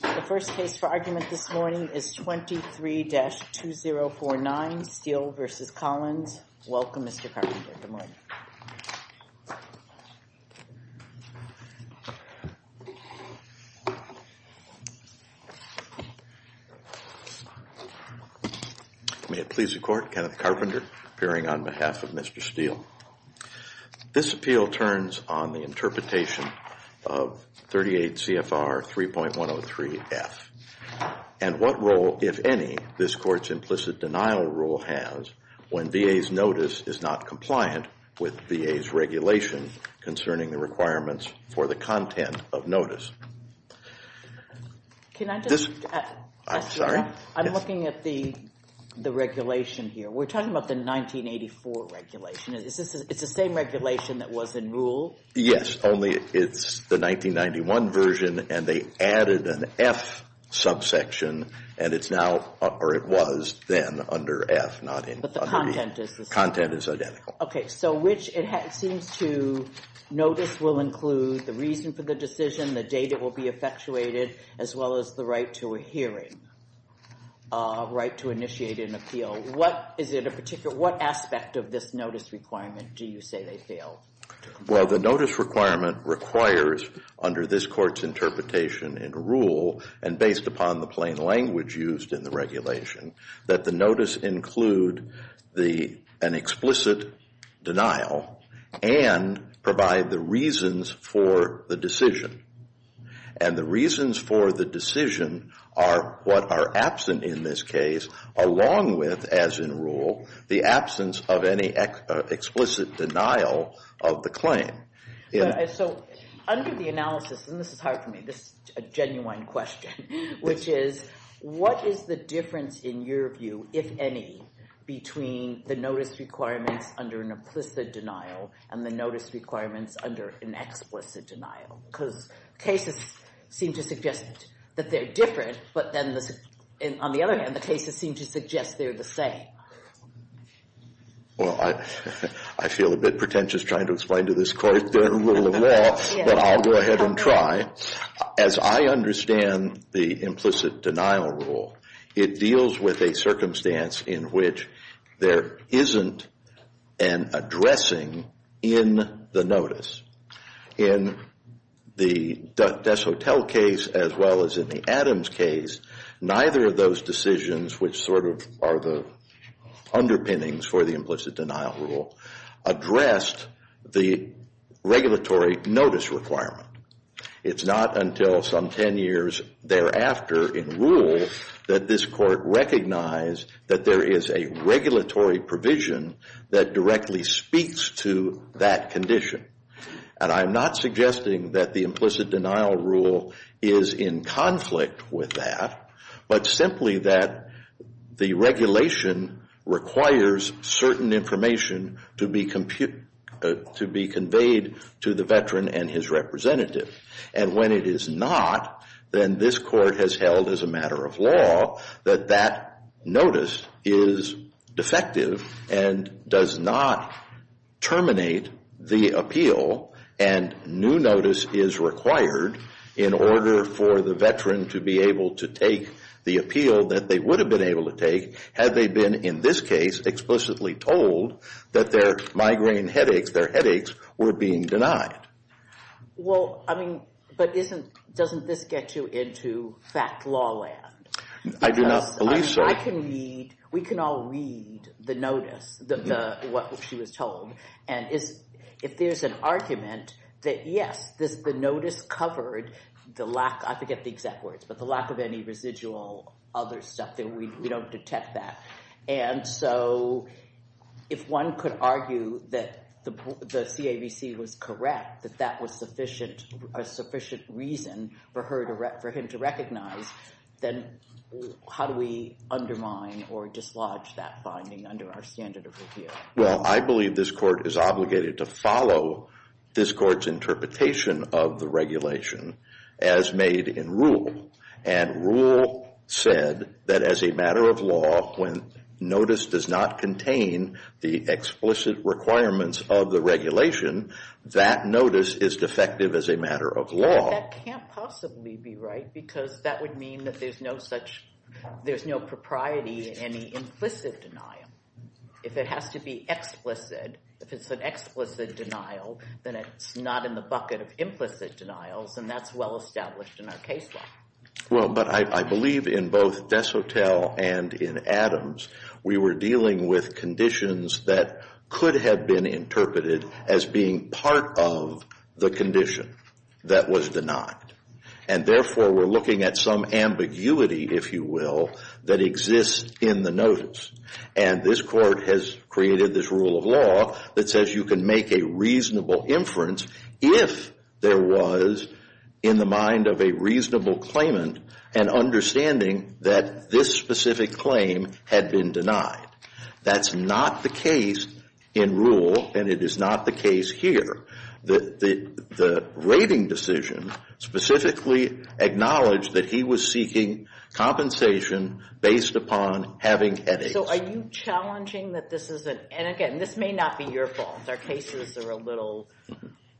The first case for argument this morning is 23-2049 Steele v. Collins. Welcome, Mr. Carpenter. May it please the Court, Kenneth Carpenter appearing on behalf of Mr. Steele. This appeal turns on the interpretation of 38 CFR 3.103 F. And what role, if any, this Court's implicit denial rule has when VA's notice is not compliant with VA's regulation concerning the requirements for the content of notice? Can I just... I'm sorry. I'm looking at the regulation here. We're talking about the 1984 regulation. It's the same regulation that was in rule? Yes, only it's the 1991 version and they added an F subsection and it's now, or it was then under F, not in... But the content is the same. Content is identical. Okay, so which it seems to notice will include the reason for the decision, the date it will be effectuated, as well as the right to a hearing, right to initiate an appeal. What is it a particular, what aspect of this notice requirement do you say they failed? Well, the notice requirement requires, under this Court's interpretation in rule and based upon the plain language used in the regulation, that the notice include an explicit denial and provide the reasons for the decision. And the reasons for the decision are what are absent in this case along with, as in rule, the absence of any explicit denial of the claim. So under the analysis, and this is hard for me, this is a genuine question, which is what is the difference in your view, if any, between the notice requirements under an implicit denial and the notice requirements under an explicit denial? Because cases seem to suggest that they're different, but then, on the other hand, the cases seem to suggest they're the same. Well, I feel a bit pretentious trying to explain to this Court their rule of law, but I'll go ahead and try. As I understand the implicit denial rule, it deals with a circumstance in which there isn't an addressing in the notice. In the Des Hotel case as well as in the Adams case, neither of those decisions, which sort of are the underpinnings for the implicit denial rule, addressed the regulatory notice requirement. It's not until some 10 years thereafter in rule that this Court recognize that there is a regulatory provision that directly speaks to that condition. And I'm not suggesting that the implicit denial rule is in conflict with that, but simply that the regulation requires certain information to be conveyed to the veteran and his representative. And when it is not, then this Court has held as a matter of law that that notice is defective and does not terminate the appeal, and new notice is required in order for the veteran to be able to take the appeal that they would have been able to take had they been, in this case, explicitly told that their migraine headaches, their headaches, were being denied. Well, I mean, but doesn't this get you into fact law land? I do not believe so. We can all read the notice, what she was told. And if there's an argument that, yes, the notice covered the lack, I forget the exact words, but the lack of any residual other stuff, then we don't detect that. And so if one could argue that the CAVC was correct, that that was sufficient reason for him to recognize, then how do we undermine or dislodge that finding under our standard of review? Well, I believe this Court is obligated to follow this Court's interpretation of the regulation as made in rule. And rule said that as a matter of law, when notice does not contain the explicit requirements of the regulation, that notice is defective as a matter of law. But that can't possibly be right, because that would mean that there's no such, there's no propriety in any implicit denial. If it has to be explicit, if it's an explicit denial, then it's not in the bucket of implicit denials, and that's well established in our case law. Well, but I believe in both Desautels and in Adams, we were dealing with conditions that could have been interpreted as being part of the condition that was denied. And therefore, we're looking at some ambiguity, if you will, that exists in the notice. And this Court has created this rule of law that says you can make a reasonable inference if there was in the mind of a reasonable claimant an understanding that this specific claim had been denied. That's not the case in rule, and it is not the case here. The rating decision specifically acknowledged that he was seeking compensation based upon having headaches. So are you challenging that this is an, and again, this may not be your fault. Our cases are a little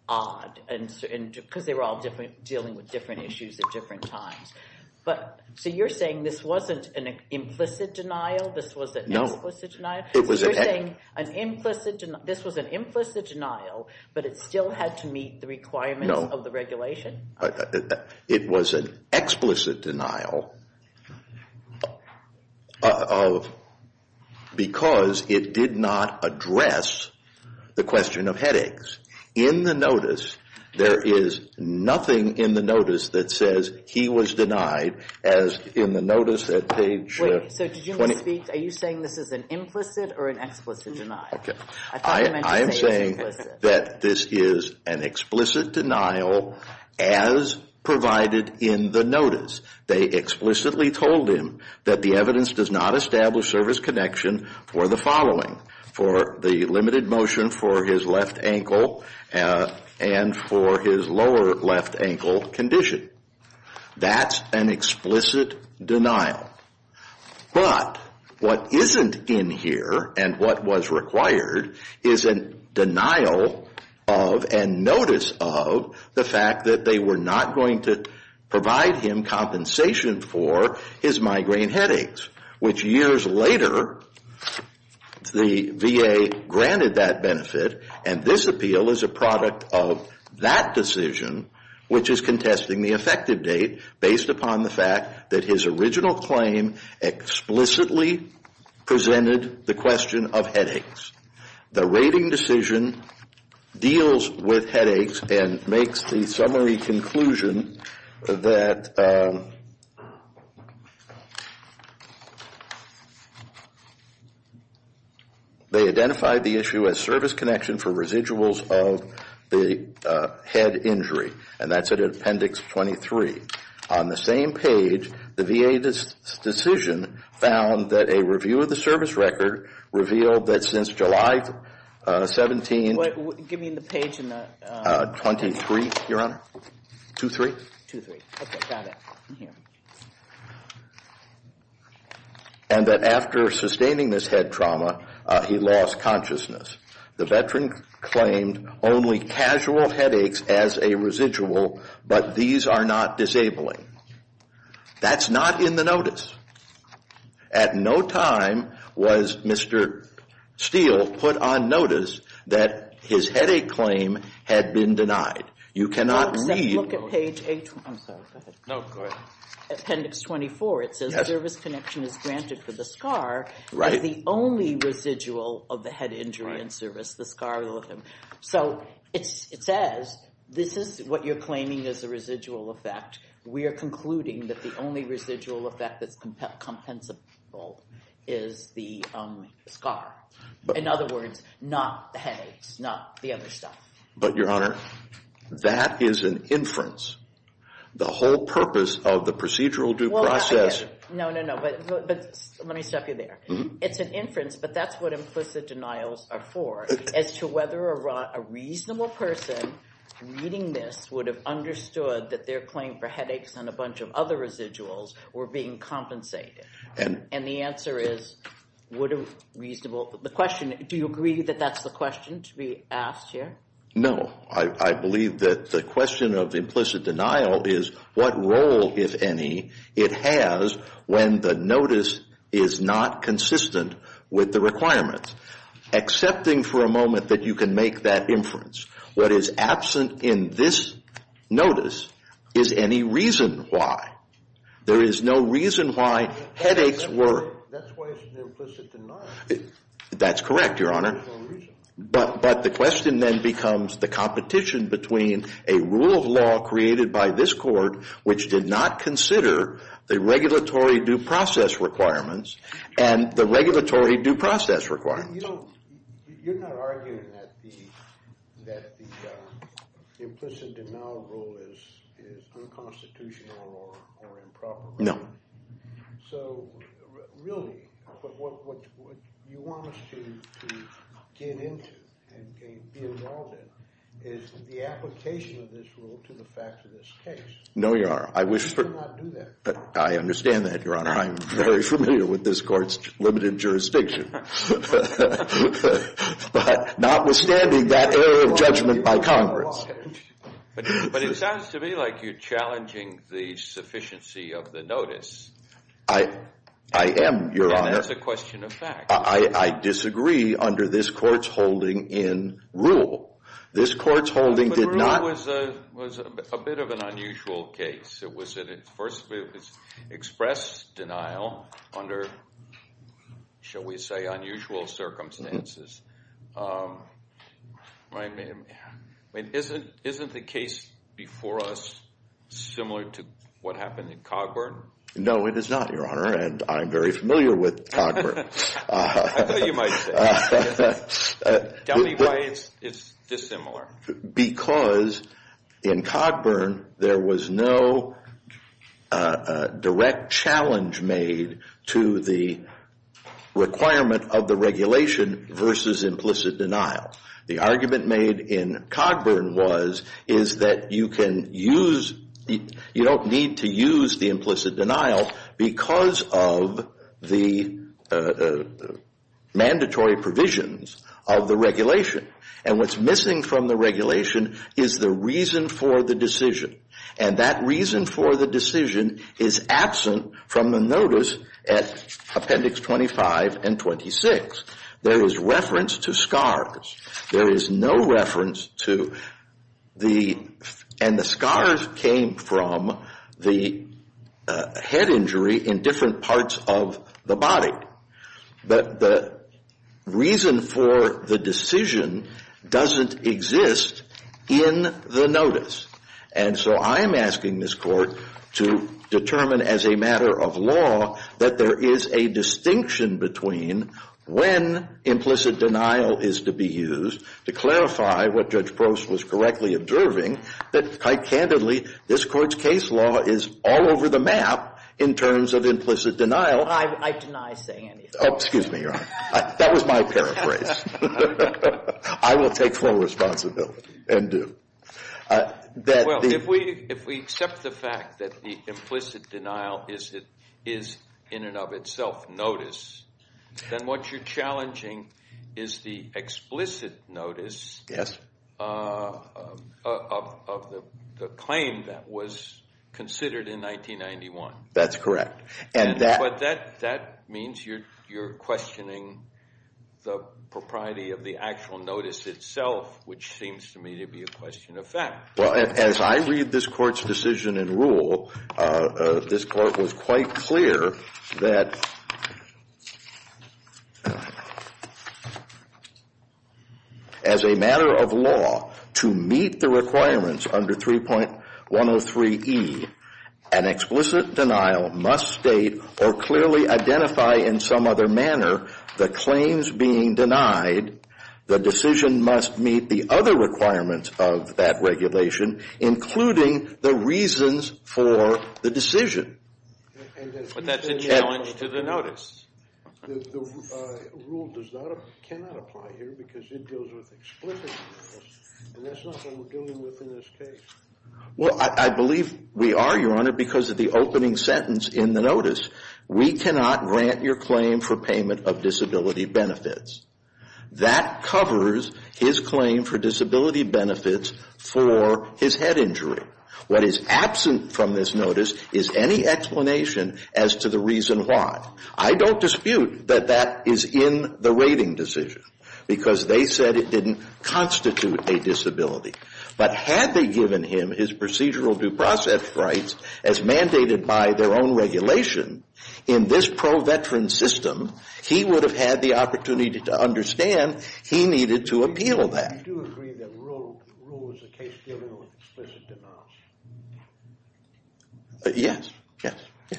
odd, because they were all dealing with different issues at different times. But, so you're saying this wasn't an implicit denial? This was an explicit denial? No. So you're saying this was an implicit denial, but it still had to meet the requirements of the regulation? No. It was an explicit denial because it did not address the question of headaches. In the notice, there is nothing in the notice that says he was denied as in the notice at page 20. Okay, so did you speak, are you saying this is an implicit or an explicit denial? Okay. I thought you meant to say explicit. I am saying that this is an explicit denial as provided in the notice. They explicitly told him that the evidence does not establish service connection for the following, for the limited motion for his left ankle and for his lower left ankle condition. That's an explicit denial. But what isn't in here and what was required is a denial of and notice of the fact that they were not going to provide him compensation for his migraine headaches, which years later the VA granted that benefit, and this appeal is a product of that decision, which is contesting the effective date, based upon the fact that his original claim explicitly presented the question of headaches. The rating decision deals with headaches and makes the summary conclusion that they identified the issue as service connection for residuals of the head injury, and that's at appendix 23. On the same page, the VA decision found that a review of the service record revealed that since July 17th. Give me the page in the. 23, Your Honor, 23. 23. Okay, got it. And that after sustaining this head trauma, he lost consciousness. The veteran claimed only casual headaches as a residual, but these are not disabling. That's not in the notice. At no time was Mr. Steele put on notice that his headache claim had been denied. You cannot read. Look at page. I'm sorry. Go ahead. No, go ahead. Appendix 24. It says service connection is granted for the scar. Right. The only residual of the head injury in service, the scar. So it says this is what you're claiming is a residual effect. We are concluding that the only residual effect that's compensable is the scar. In other words, not the headaches, not the other stuff. But, Your Honor, that is an inference. The whole purpose of the procedural due process. No, no, no. But let me stop you there. It's an inference, but that's what implicit denials are for as to whether a reasonable person reading this would have understood that their claim for headaches and a bunch of other residuals were being compensated. And the answer is would have reasonable. Do you agree that that's the question to be asked here? No. I believe that the question of implicit denial is what role, if any, it has when the notice is not consistent with the requirements. Accepting for a moment that you can make that inference. What is absent in this notice is any reason why. There is no reason why headaches were. That's why it's an implicit denial. That's correct, Your Honor. But the question then becomes the competition between a rule of law created by this court, which did not consider the regulatory due process requirements, and the regulatory due process requirements. You're not arguing that the implicit denial rule is unconstitutional or improper. No. So really, what you want us to get into and be involved in is the application of this rule to the fact of this case. No, Your Honor. You cannot do that. I understand that, Your Honor. I'm very familiar with this court's limited jurisdiction. But notwithstanding that area of judgment by Congress. But it sounds to me like you're challenging the sufficiency of the notice. I am, Your Honor. And that's a question of fact. I disagree under this court's holding in rule. This court's holding did not. The rule was a bit of an unusual case. It was expressed denial under, shall we say, unusual circumstances. I mean, isn't the case before us similar to what happened in Cogburn? No, it is not, Your Honor. And I'm very familiar with Cogburn. I thought you might say. Tell me why it's dissimilar. Because in Cogburn, there was no direct challenge made to the requirement of the regulation versus implicit denial. The argument made in Cogburn was that you don't need to use the implicit denial because of the mandatory provisions of the regulation. And what's missing from the regulation is the reason for the decision. And that reason for the decision is absent from the notice at Appendix 25 and 26. There is reference to scars. There is no reference to the... And the scars came from the head injury in different parts of the body. But the reason for the decision doesn't exist in the notice. And so I'm asking this court to determine as a matter of law that there is a distinction between when implicit denial is to be used, to clarify what Judge Prost was correctly observing, that quite candidly, this court's case law is all over the map in terms of implicit denial. I deny saying anything. Excuse me, Your Honor. That was my paraphrase. I will take full responsibility and do. Well, if we accept the fact that the implicit denial is in and of itself notice, then what you're challenging is the explicit notice of the claim that was considered in 1991. That's correct. But that means you're questioning the propriety of the actual notice itself, which seems to me to be a question of fact. Well, as I read this court's decision and rule, this court was quite clear that as a matter of law, to meet the requirements under 3.103E, an explicit denial must state or clearly identify in some other manner the claims being denied. The decision must meet the other requirements of that regulation, including the reasons for the decision. But that's a challenge to the notice. The rule cannot apply here because it deals with explicit notice, and that's not what we're dealing with in this case. Well, I believe we are, Your Honor, because of the opening sentence in the notice. We cannot grant your claim for payment of disability benefits. That covers his claim for disability benefits for his head injury. What is absent from this notice is any explanation as to the reason why. I don't dispute that that is in the rating decision because they said it didn't constitute a disability. But had they given him his procedural due process rights as mandated by their own regulation, in this pro-veteran system, he would have had the opportunity to understand he needed to appeal that. Do you agree that the rule was a case dealing with explicit denials? Yes.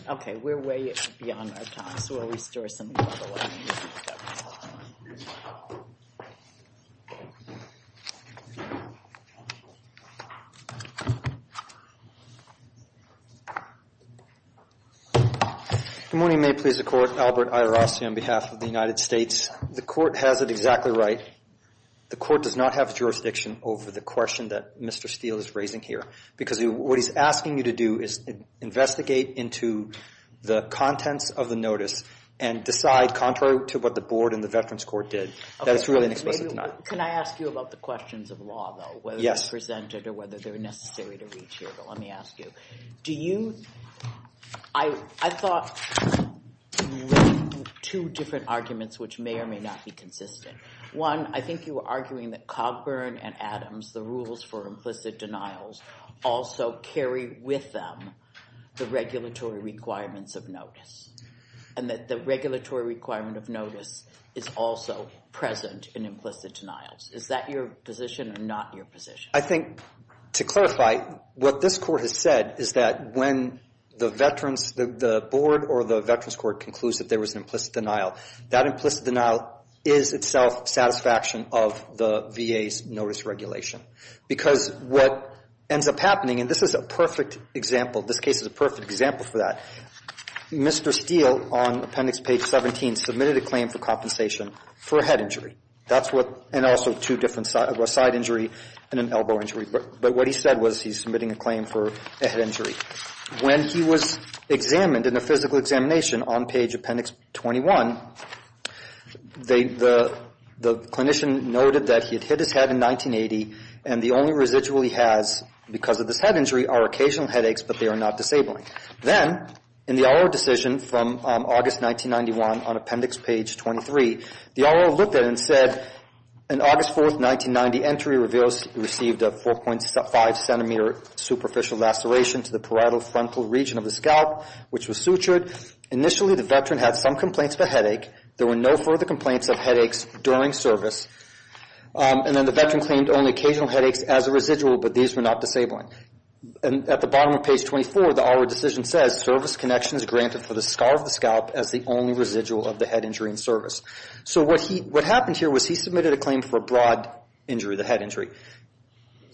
Okay. We're way beyond our time, so we'll restore some time. Good morning. May it please the Court. Albert Ayer-Ross here on behalf of the United States. The Court has it exactly right. The Court does not have jurisdiction over the question that Mr. Steele is raising here because what he's asking you to do is investigate into the contents of the notice and decide contrary to what the Board and the Veterans Court did. That is really an explicit denial. Can I ask you about the questions of law, though? Yes. Whether they're presented or whether they're necessary to reach here, but let me ask you. I thought you raised two different arguments which may or may not be consistent. One, I think you were arguing that Cogburn and Adams, the rules for implicit denials, also carry with them the regulatory requirements of notice and that the regulatory requirement of notice is also present in implicit denials. Is that your position or not your position? I think to clarify, what this Court has said is that when the Board or the Veterans Court concludes that there was an implicit denial, that implicit denial is itself satisfaction of the VA's notice regulation because what ends up happening, and this is a perfect example. This case is a perfect example for that. Mr. Steele on Appendix Page 17 submitted a claim for compensation for a head injury. That's what – and also two different – a side injury and an elbow injury. But what he said was he's submitting a claim for a head injury. When he was examined in a physical examination on Page Appendix 21, the clinician noted that he had hit his head in 1980, and the only residual he has because of this head injury are occasional headaches, but they are not disabling. Then in the R.O. decision from August 1991 on Appendix Page 23, the R.O. looked at it and said, An August 4, 1990, entry received a 4.5-centimeter superficial laceration to the parietal frontal region of the scalp, which was sutured. Initially, the Veteran had some complaints of a headache. There were no further complaints of headaches during service. And then the Veteran claimed only occasional headaches as a residual, but these were not disabling. And at the bottom of Page 24, the R.O. decision says, Service connection is granted for the scar of the scalp as the only residual of the head injury in service. So what happened here was he submitted a claim for a broad injury, the head injury.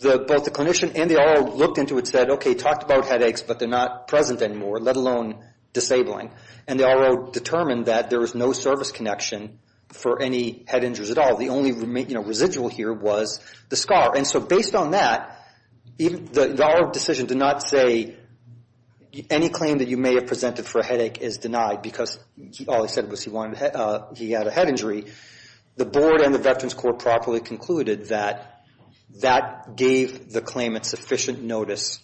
Both the clinician and the R.O. looked into it and said, Okay, talked about headaches, but they're not present anymore, let alone disabling. And the R.O. determined that there was no service connection for any head injuries at all. The only residual here was the scar. And so based on that, the R.O. decision did not say any claim that you may have presented for a headache is denied because all he said was he had a head injury. The Board and the Veterans Court properly concluded that that gave the claimant sufficient notice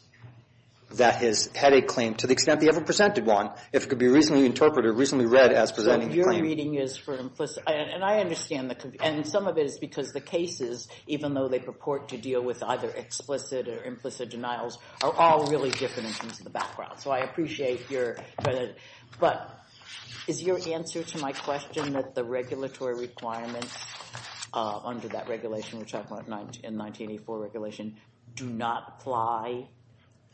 that his headache claim, to the extent they ever presented one, if it could be reasonably interpreted, reasonably read as presenting the claim. Your reading is for implicit, and I understand, and some of it is because the cases, even though they purport to deal with either explicit or implicit denials, are all really different in terms of the background. So I appreciate your credit. But is your answer to my question that the regulatory requirements under that regulation, which I thought in 1984 regulation, do not apply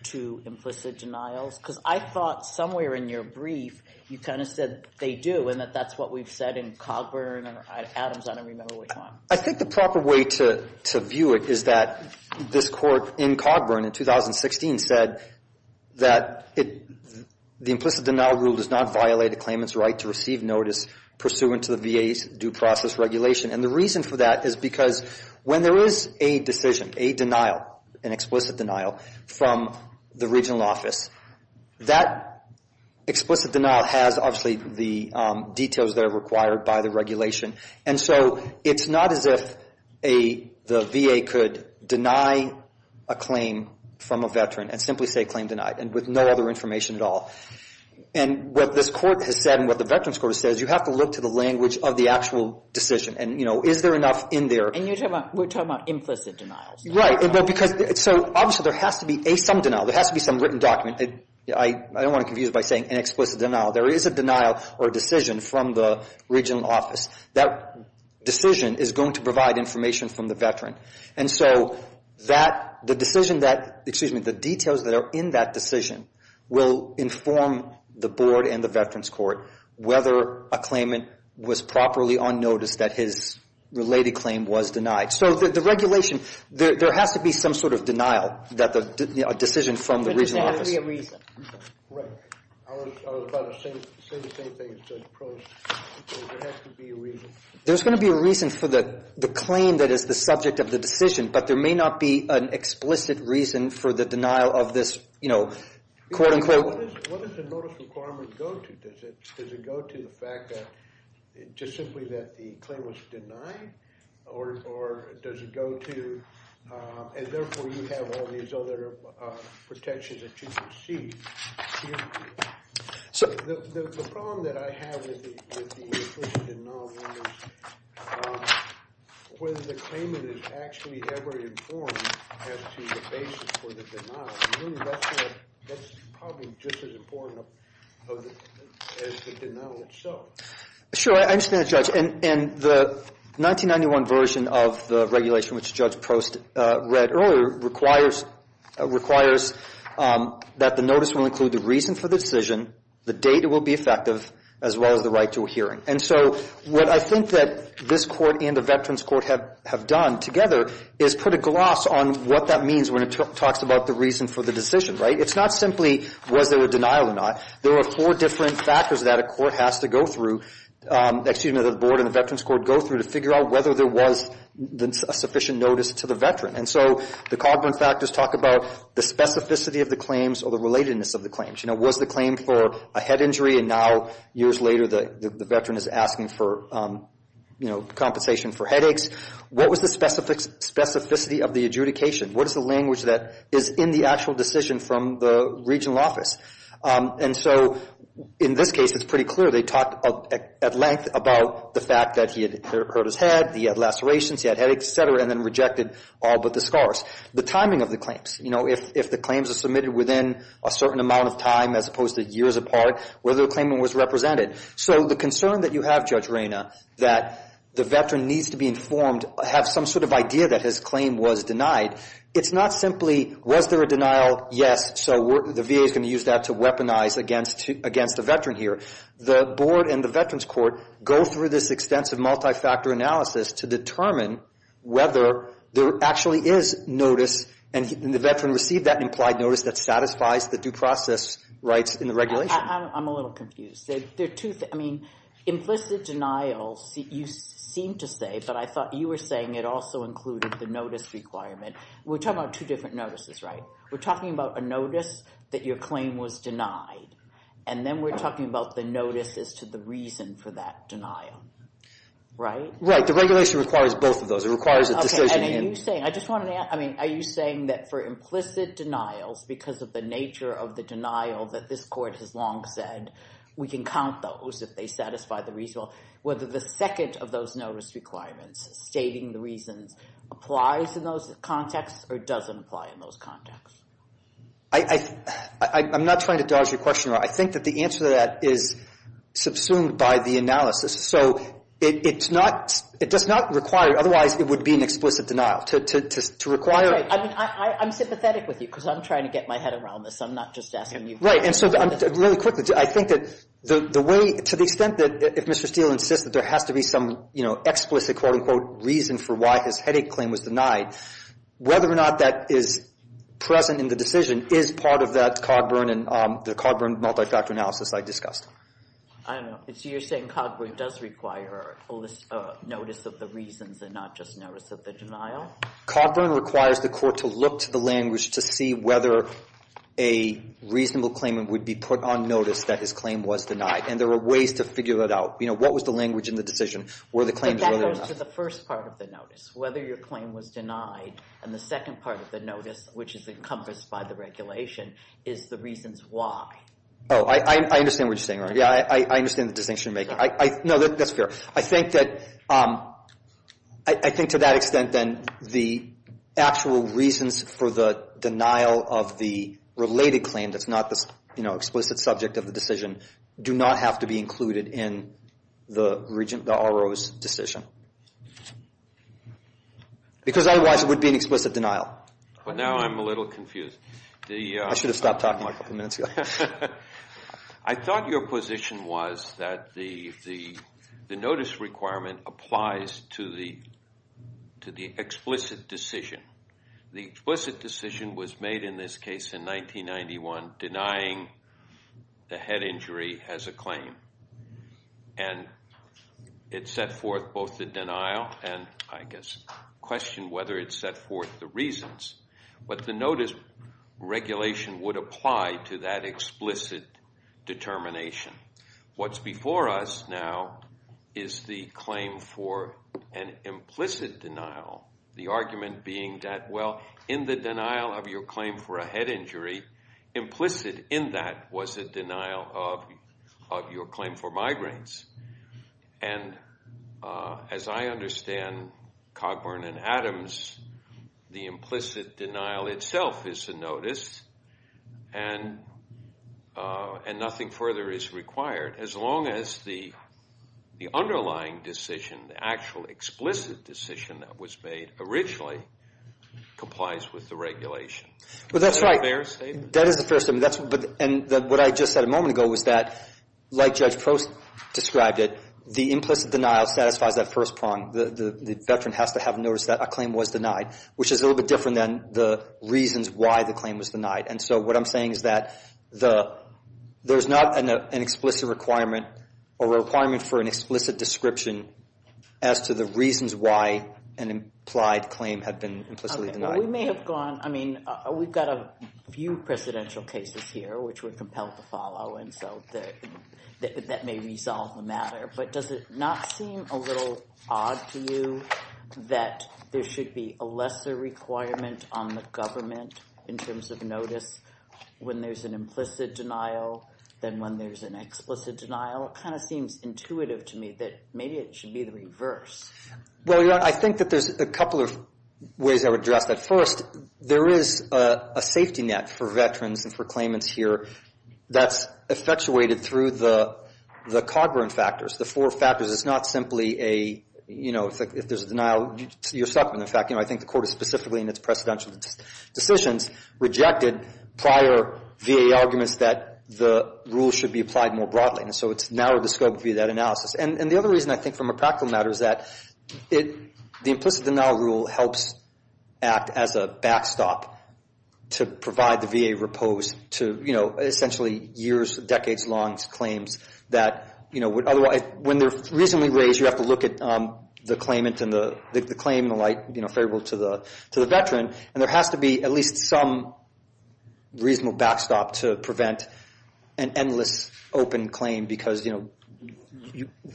to implicit denials? Because I thought somewhere in your brief you kind of said they do, and that that's what we've said in Cogburn and Adams. I don't remember which one. I think the proper way to view it is that this court in Cogburn in 2016 said that the implicit denial rule does not violate a claimant's right to receive notice pursuant to the VA's due process regulation. And the reason for that is because when there is a decision, a denial, an explicit denial from the regional office, that explicit denial has obviously the details that are required by the regulation. And so it's not as if the VA could deny a claim from a veteran and simply say claim denied and with no other information at all. And what this court has said and what the Veterans Court has said is you have to look to the language of the actual decision. And, you know, is there enough in there? And you're talking about implicit denials. Right. So obviously there has to be some denial. There has to be some written document. I don't want to confuse it by saying an explicit denial. There is a denial or decision from the regional office. That decision is going to provide information from the veteran. And so the details that are in that decision will inform the board and the Veterans Court whether a claimant was properly on notice that his related claim was denied. So the regulation, there has to be some sort of denial, a decision from the regional office. But it doesn't have to be a reason. Right. I was about to say the same thing as Judge Probst. There has to be a reason. There's going to be a reason for the claim that is the subject of the decision, but there may not be an explicit reason for the denial of this, you know, quote-unquote. What does the notice requirement go to? Does it go to the fact that just simply that the claim was denied? Or does it go to, and therefore you have all these other protections that you can see? So the problem that I have with the explicit denial is whether the claimant is actually ever informed as to the basis for the denial. That's probably just as important as the denial itself. Sure. I understand that, Judge. And the 1991 version of the regulation, which Judge Probst read earlier, requires that the notice will include the reason for the decision, the date it will be effective, as well as the right to a hearing. And so what I think that this court and the Veterans Court have done together is put a gloss on what that means when it talks about the reason for the decision, right? It's not simply was there a denial or not. There are four different factors that a court has to go through, excuse me, that the board and the Veterans Court go through to figure out whether there was a sufficient notice to the veteran. And so the Cogburn factors talk about the specificity of the claims or the relatedness of the claims. You know, was the claim for a head injury, and now years later the veteran is asking for, you know, compensation for headaches? What was the specificity of the adjudication? What is the language that is in the actual decision from the regional office? And so in this case it's pretty clear they talked at length about the fact that he had hurt his head, he had lacerations, he had headaches, et cetera, and then rejected all but the scars. The timing of the claims, you know, if the claims are submitted within a certain amount of time as opposed to years apart, whether the claimant was represented. So the concern that you have, Judge Reyna, that the veteran needs to be informed, have some sort of idea that his claim was denied, it's not simply was there a denial, yes, so the VA is going to use that to weaponize against a veteran here. The board and the Veterans Court go through this extensive multi-factor analysis to determine whether there actually is notice, and the veteran received that implied notice that satisfies the due process rights in the regulation. I'm a little confused. Implicit denial, you seem to say, but I thought you were saying it also included the notice requirement. We're talking about two different notices, right? We're talking about a notice that your claim was denied, and then we're talking about the notice as to the reason for that denial, right? Right. The regulation requires both of those. It requires a decision. Are you saying that for implicit denials because of the nature of the denial that this court has long said we can count those if they satisfy the reason, whether the second of those notice requirements stating the reasons applies in those contexts or doesn't apply in those contexts? I'm not trying to dodge your question. I think that the answer to that is subsumed by the analysis. So it does not require, otherwise it would be an explicit denial. To require it – I'm sympathetic with you because I'm trying to get my head around this. I'm not just asking you questions. Right. And so really quickly, I think that the way – to the extent that if Mr. Steele insists that there has to be some explicit, quote-unquote, reason for why his headache claim was denied, whether or not that is present in the decision is part of that Cogburn and the Cogburn multi-factor analysis I discussed. I don't know. So you're saying Cogburn does require a notice of the reasons and not just notice of the denial? Cogburn requires the court to look to the language to see whether a reasonable claimant would be put on notice that his claim was denied. And there are ways to figure that out. You know, what was the language in the decision? But that goes to the first part of the notice, whether your claim was denied. And the second part of the notice, which is encompassed by the regulation, is the reasons why. Oh, I understand what you're saying. Yeah, I understand the distinction you're making. No, that's fair. I think to that extent, then, the actual reasons for the denial of the related claim that's not the explicit subject of the decision do not have to be included in the RO's decision. Because otherwise it would be an explicit denial. Well, now I'm a little confused. I should have stopped talking a couple minutes ago. I thought your position was that the notice requirement applies to the explicit decision. The explicit decision was made in this case in 1991 denying the head injury as a claim. And it set forth both the denial and, I guess, questioned whether it set forth the reasons. But the notice regulation would apply to that explicit determination. What's before us now is the claim for an implicit denial. The argument being that, well, in the denial of your claim for a head injury, implicit in that was a denial of your claim for migraines. And as I understand Cogburn and Adams, the implicit denial itself is a notice and nothing further is required as long as the underlying decision, the actual explicit decision that was made originally complies with the regulation. Well, that's right. Is that a fair statement? That is a fair statement. What I just said a moment ago was that, like Judge Post described it, the implicit denial satisfies that first prong. The veteran has to have a notice that a claim was denied, which is a little bit different than the reasons why the claim was denied. And so what I'm saying is that there's not an explicit requirement or a requirement for an explicit description as to the reasons why an implied claim had been implicitly denied. We may have gone, I mean, we've got a few presidential cases here which we're compelled to follow, and so that may resolve the matter. But does it not seem a little odd to you that there should be a lesser requirement on the government in terms of notice when there's an implicit denial than when there's an explicit denial? It kind of seems intuitive to me that maybe it should be the reverse. Well, Your Honor, I think that there's a couple of ways I would address that. First, there is a safety net for veterans and for claimants here that's effectuated through the Codburn factors, the four factors. It's not simply a, you know, if there's a denial, you're stuck with the fact, you know, I think the Court has specifically in its presidential decisions rejected prior VA arguments that the rule should be applied more broadly. And so it's narrowed the scope via that analysis. And the other reason I think from a practical matter is that the implicit denial rule helps act as a backstop to provide the VA repose to, you know, essentially years, decades-long claims that, you know, when they're reasonably raised, you have to look at the claimant and the claim and the like, you know, favorable to the veteran. And there has to be at least some reasonable backstop to prevent an endless open claim because, you know,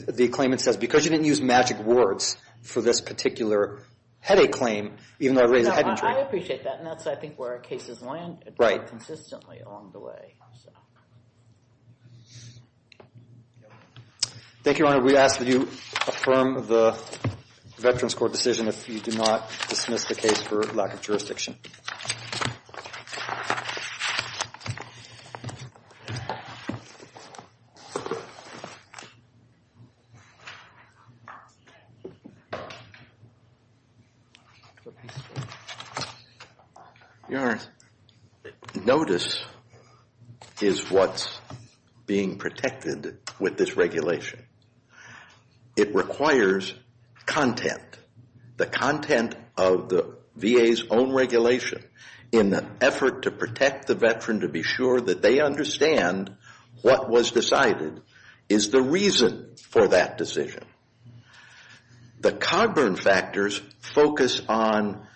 the claimant says, because you didn't use magic words for this particular headache claim, even though I raised a head injury. I appreciate that, and that's, I think, where cases land consistently along the way. Thank you, Your Honor. Your Honor, we ask that you affirm the Veterans Court decision if you do not dismiss the case for lack of jurisdiction. Your Honor, notice is what's being protected with this regulation. It requires content, the content of the VA's own regulation in an effort to protect the veteran to be sure that they understand what was decided is the reason for that decision. The Cogburn factors focus on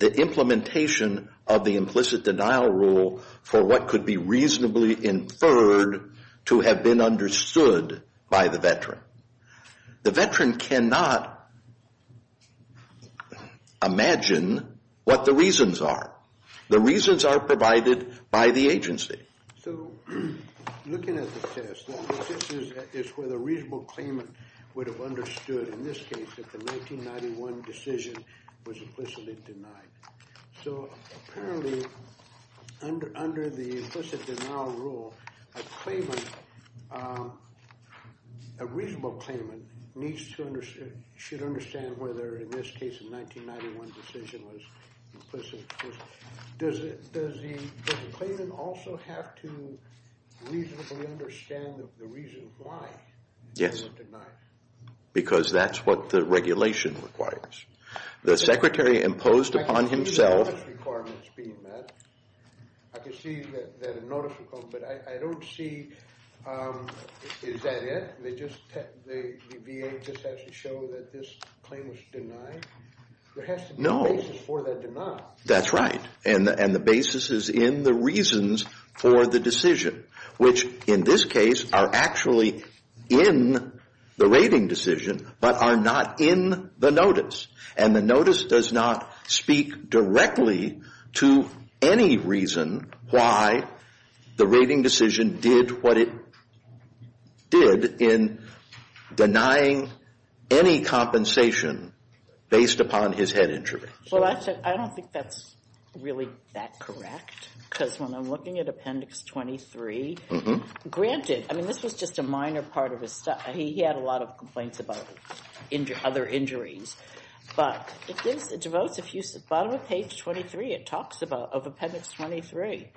the implementation of the implicit denial rule for what could be reasonably inferred to have been understood by the veteran. The veteran cannot imagine what the reasons are. The reasons are provided by the agency. So looking at the test, this is where the reasonable claimant would have understood, in this case, that the 1991 decision was implicitly denied. So apparently, under the implicit denial rule, a claimant, a reasonable claimant, needs to understand, should understand whether, in this case, the 1991 decision was implicitly denied. Does the claimant also have to reasonably understand the reason why it was denied? Yes, because that's what the regulation requires. The Secretary imposed upon himself. I can see the notice requirements being met. I can see that a notice will come, but I don't see, is that it? The VA just has to show that this claim was denied? No. There has to be a basis for that denial. That's right. And the basis is in the reasons for the decision, which, in this case, are actually in the rating decision, but are not in the notice. And the notice does not speak directly to any reason why the rating decision did what it did in denying any compensation based upon his head injury. Well, I don't think that's really that correct, because when I'm looking at Appendix 23, granted, I mean, this was just a minor part of his stuff. He had a lot of complaints about other injuries. But if you go to the bottom of page 23, it talks about Appendix 23.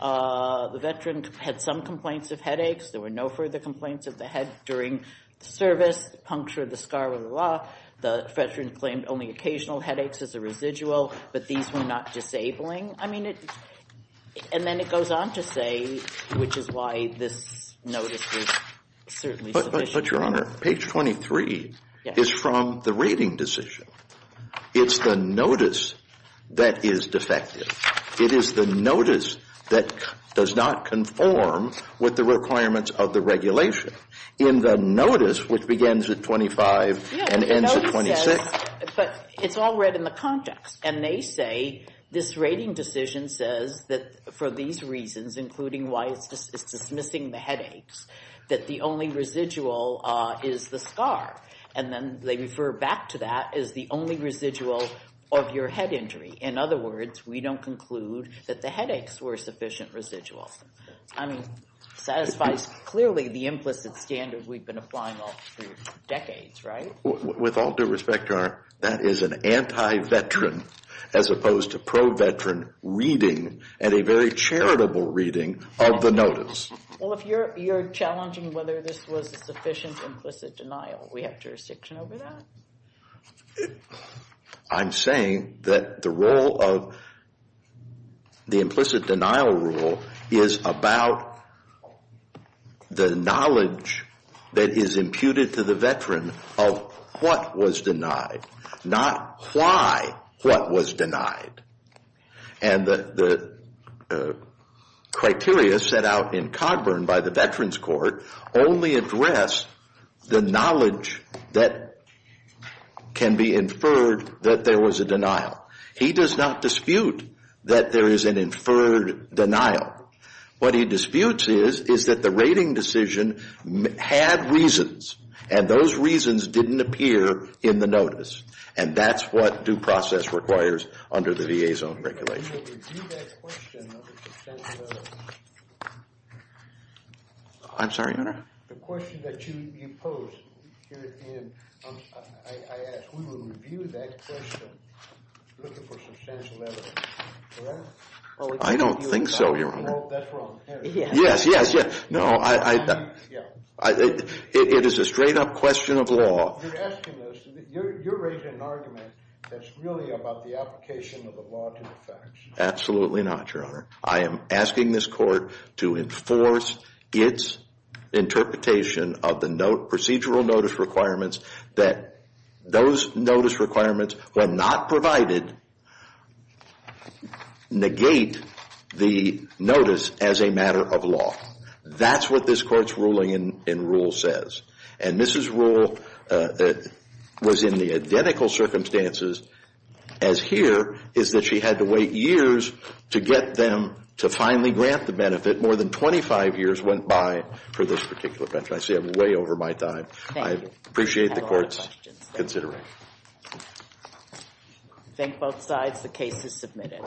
The veteran had some complaints of headaches. There were no further complaints of the head during service, puncture of the scar, blah, blah, blah. The veteran claimed only occasional headaches as a residual, but these were not disabling. I mean, and then it goes on to say, which is why this notice is certainly sufficient. But, Your Honor, page 23 is from the rating decision. It's the notice that is defective. It is the notice that does not conform with the requirements of the regulation. In the notice, which begins at 25 and ends at 26. But it's all read in the context, and they say this rating decision says that for these reasons, including why it's dismissing the headaches, that the only residual is the scar. And then they refer back to that as the only residual of your head injury. In other words, we don't conclude that the headaches were sufficient residuals. I mean, satisfies clearly the implicit standard we've been applying all through decades, right? With all due respect, Your Honor, that is an anti-veteran as opposed to pro-veteran reading and a very charitable reading of the notice. Well, if you're challenging whether this was a sufficient implicit denial, we have jurisdiction over that? I'm saying that the role of the implicit denial rule is about the knowledge that is imputed to the veteran of what was denied, not why what was denied. And the criteria set out in Codburn by the Veterans Court only address the knowledge that can be inferred that there was a denial. He does not dispute that there is an inferred denial. What he disputes is is that the rating decision had reasons, and those reasons didn't appear in the notice. And that's what due process requires under the VA's own regulation. I'm sorry, Your Honor? I don't think so, Your Honor. Yes, yes, yes. It is a straight up question of law. Absolutely not, Your Honor. I am asking this court to enforce its interpretation of the procedural notice requirements that those notice requirements were not provided negate the notice as a matter of law. That's what this court's ruling in rule says. And Mrs. Rule was in the identical circumstances as here is that she had to wait years to get them to finally grant the benefit. More than 25 years went by for this particular benefit. I see I'm way over my time. I appreciate the court's consideration. Thank both sides. The case is submitted.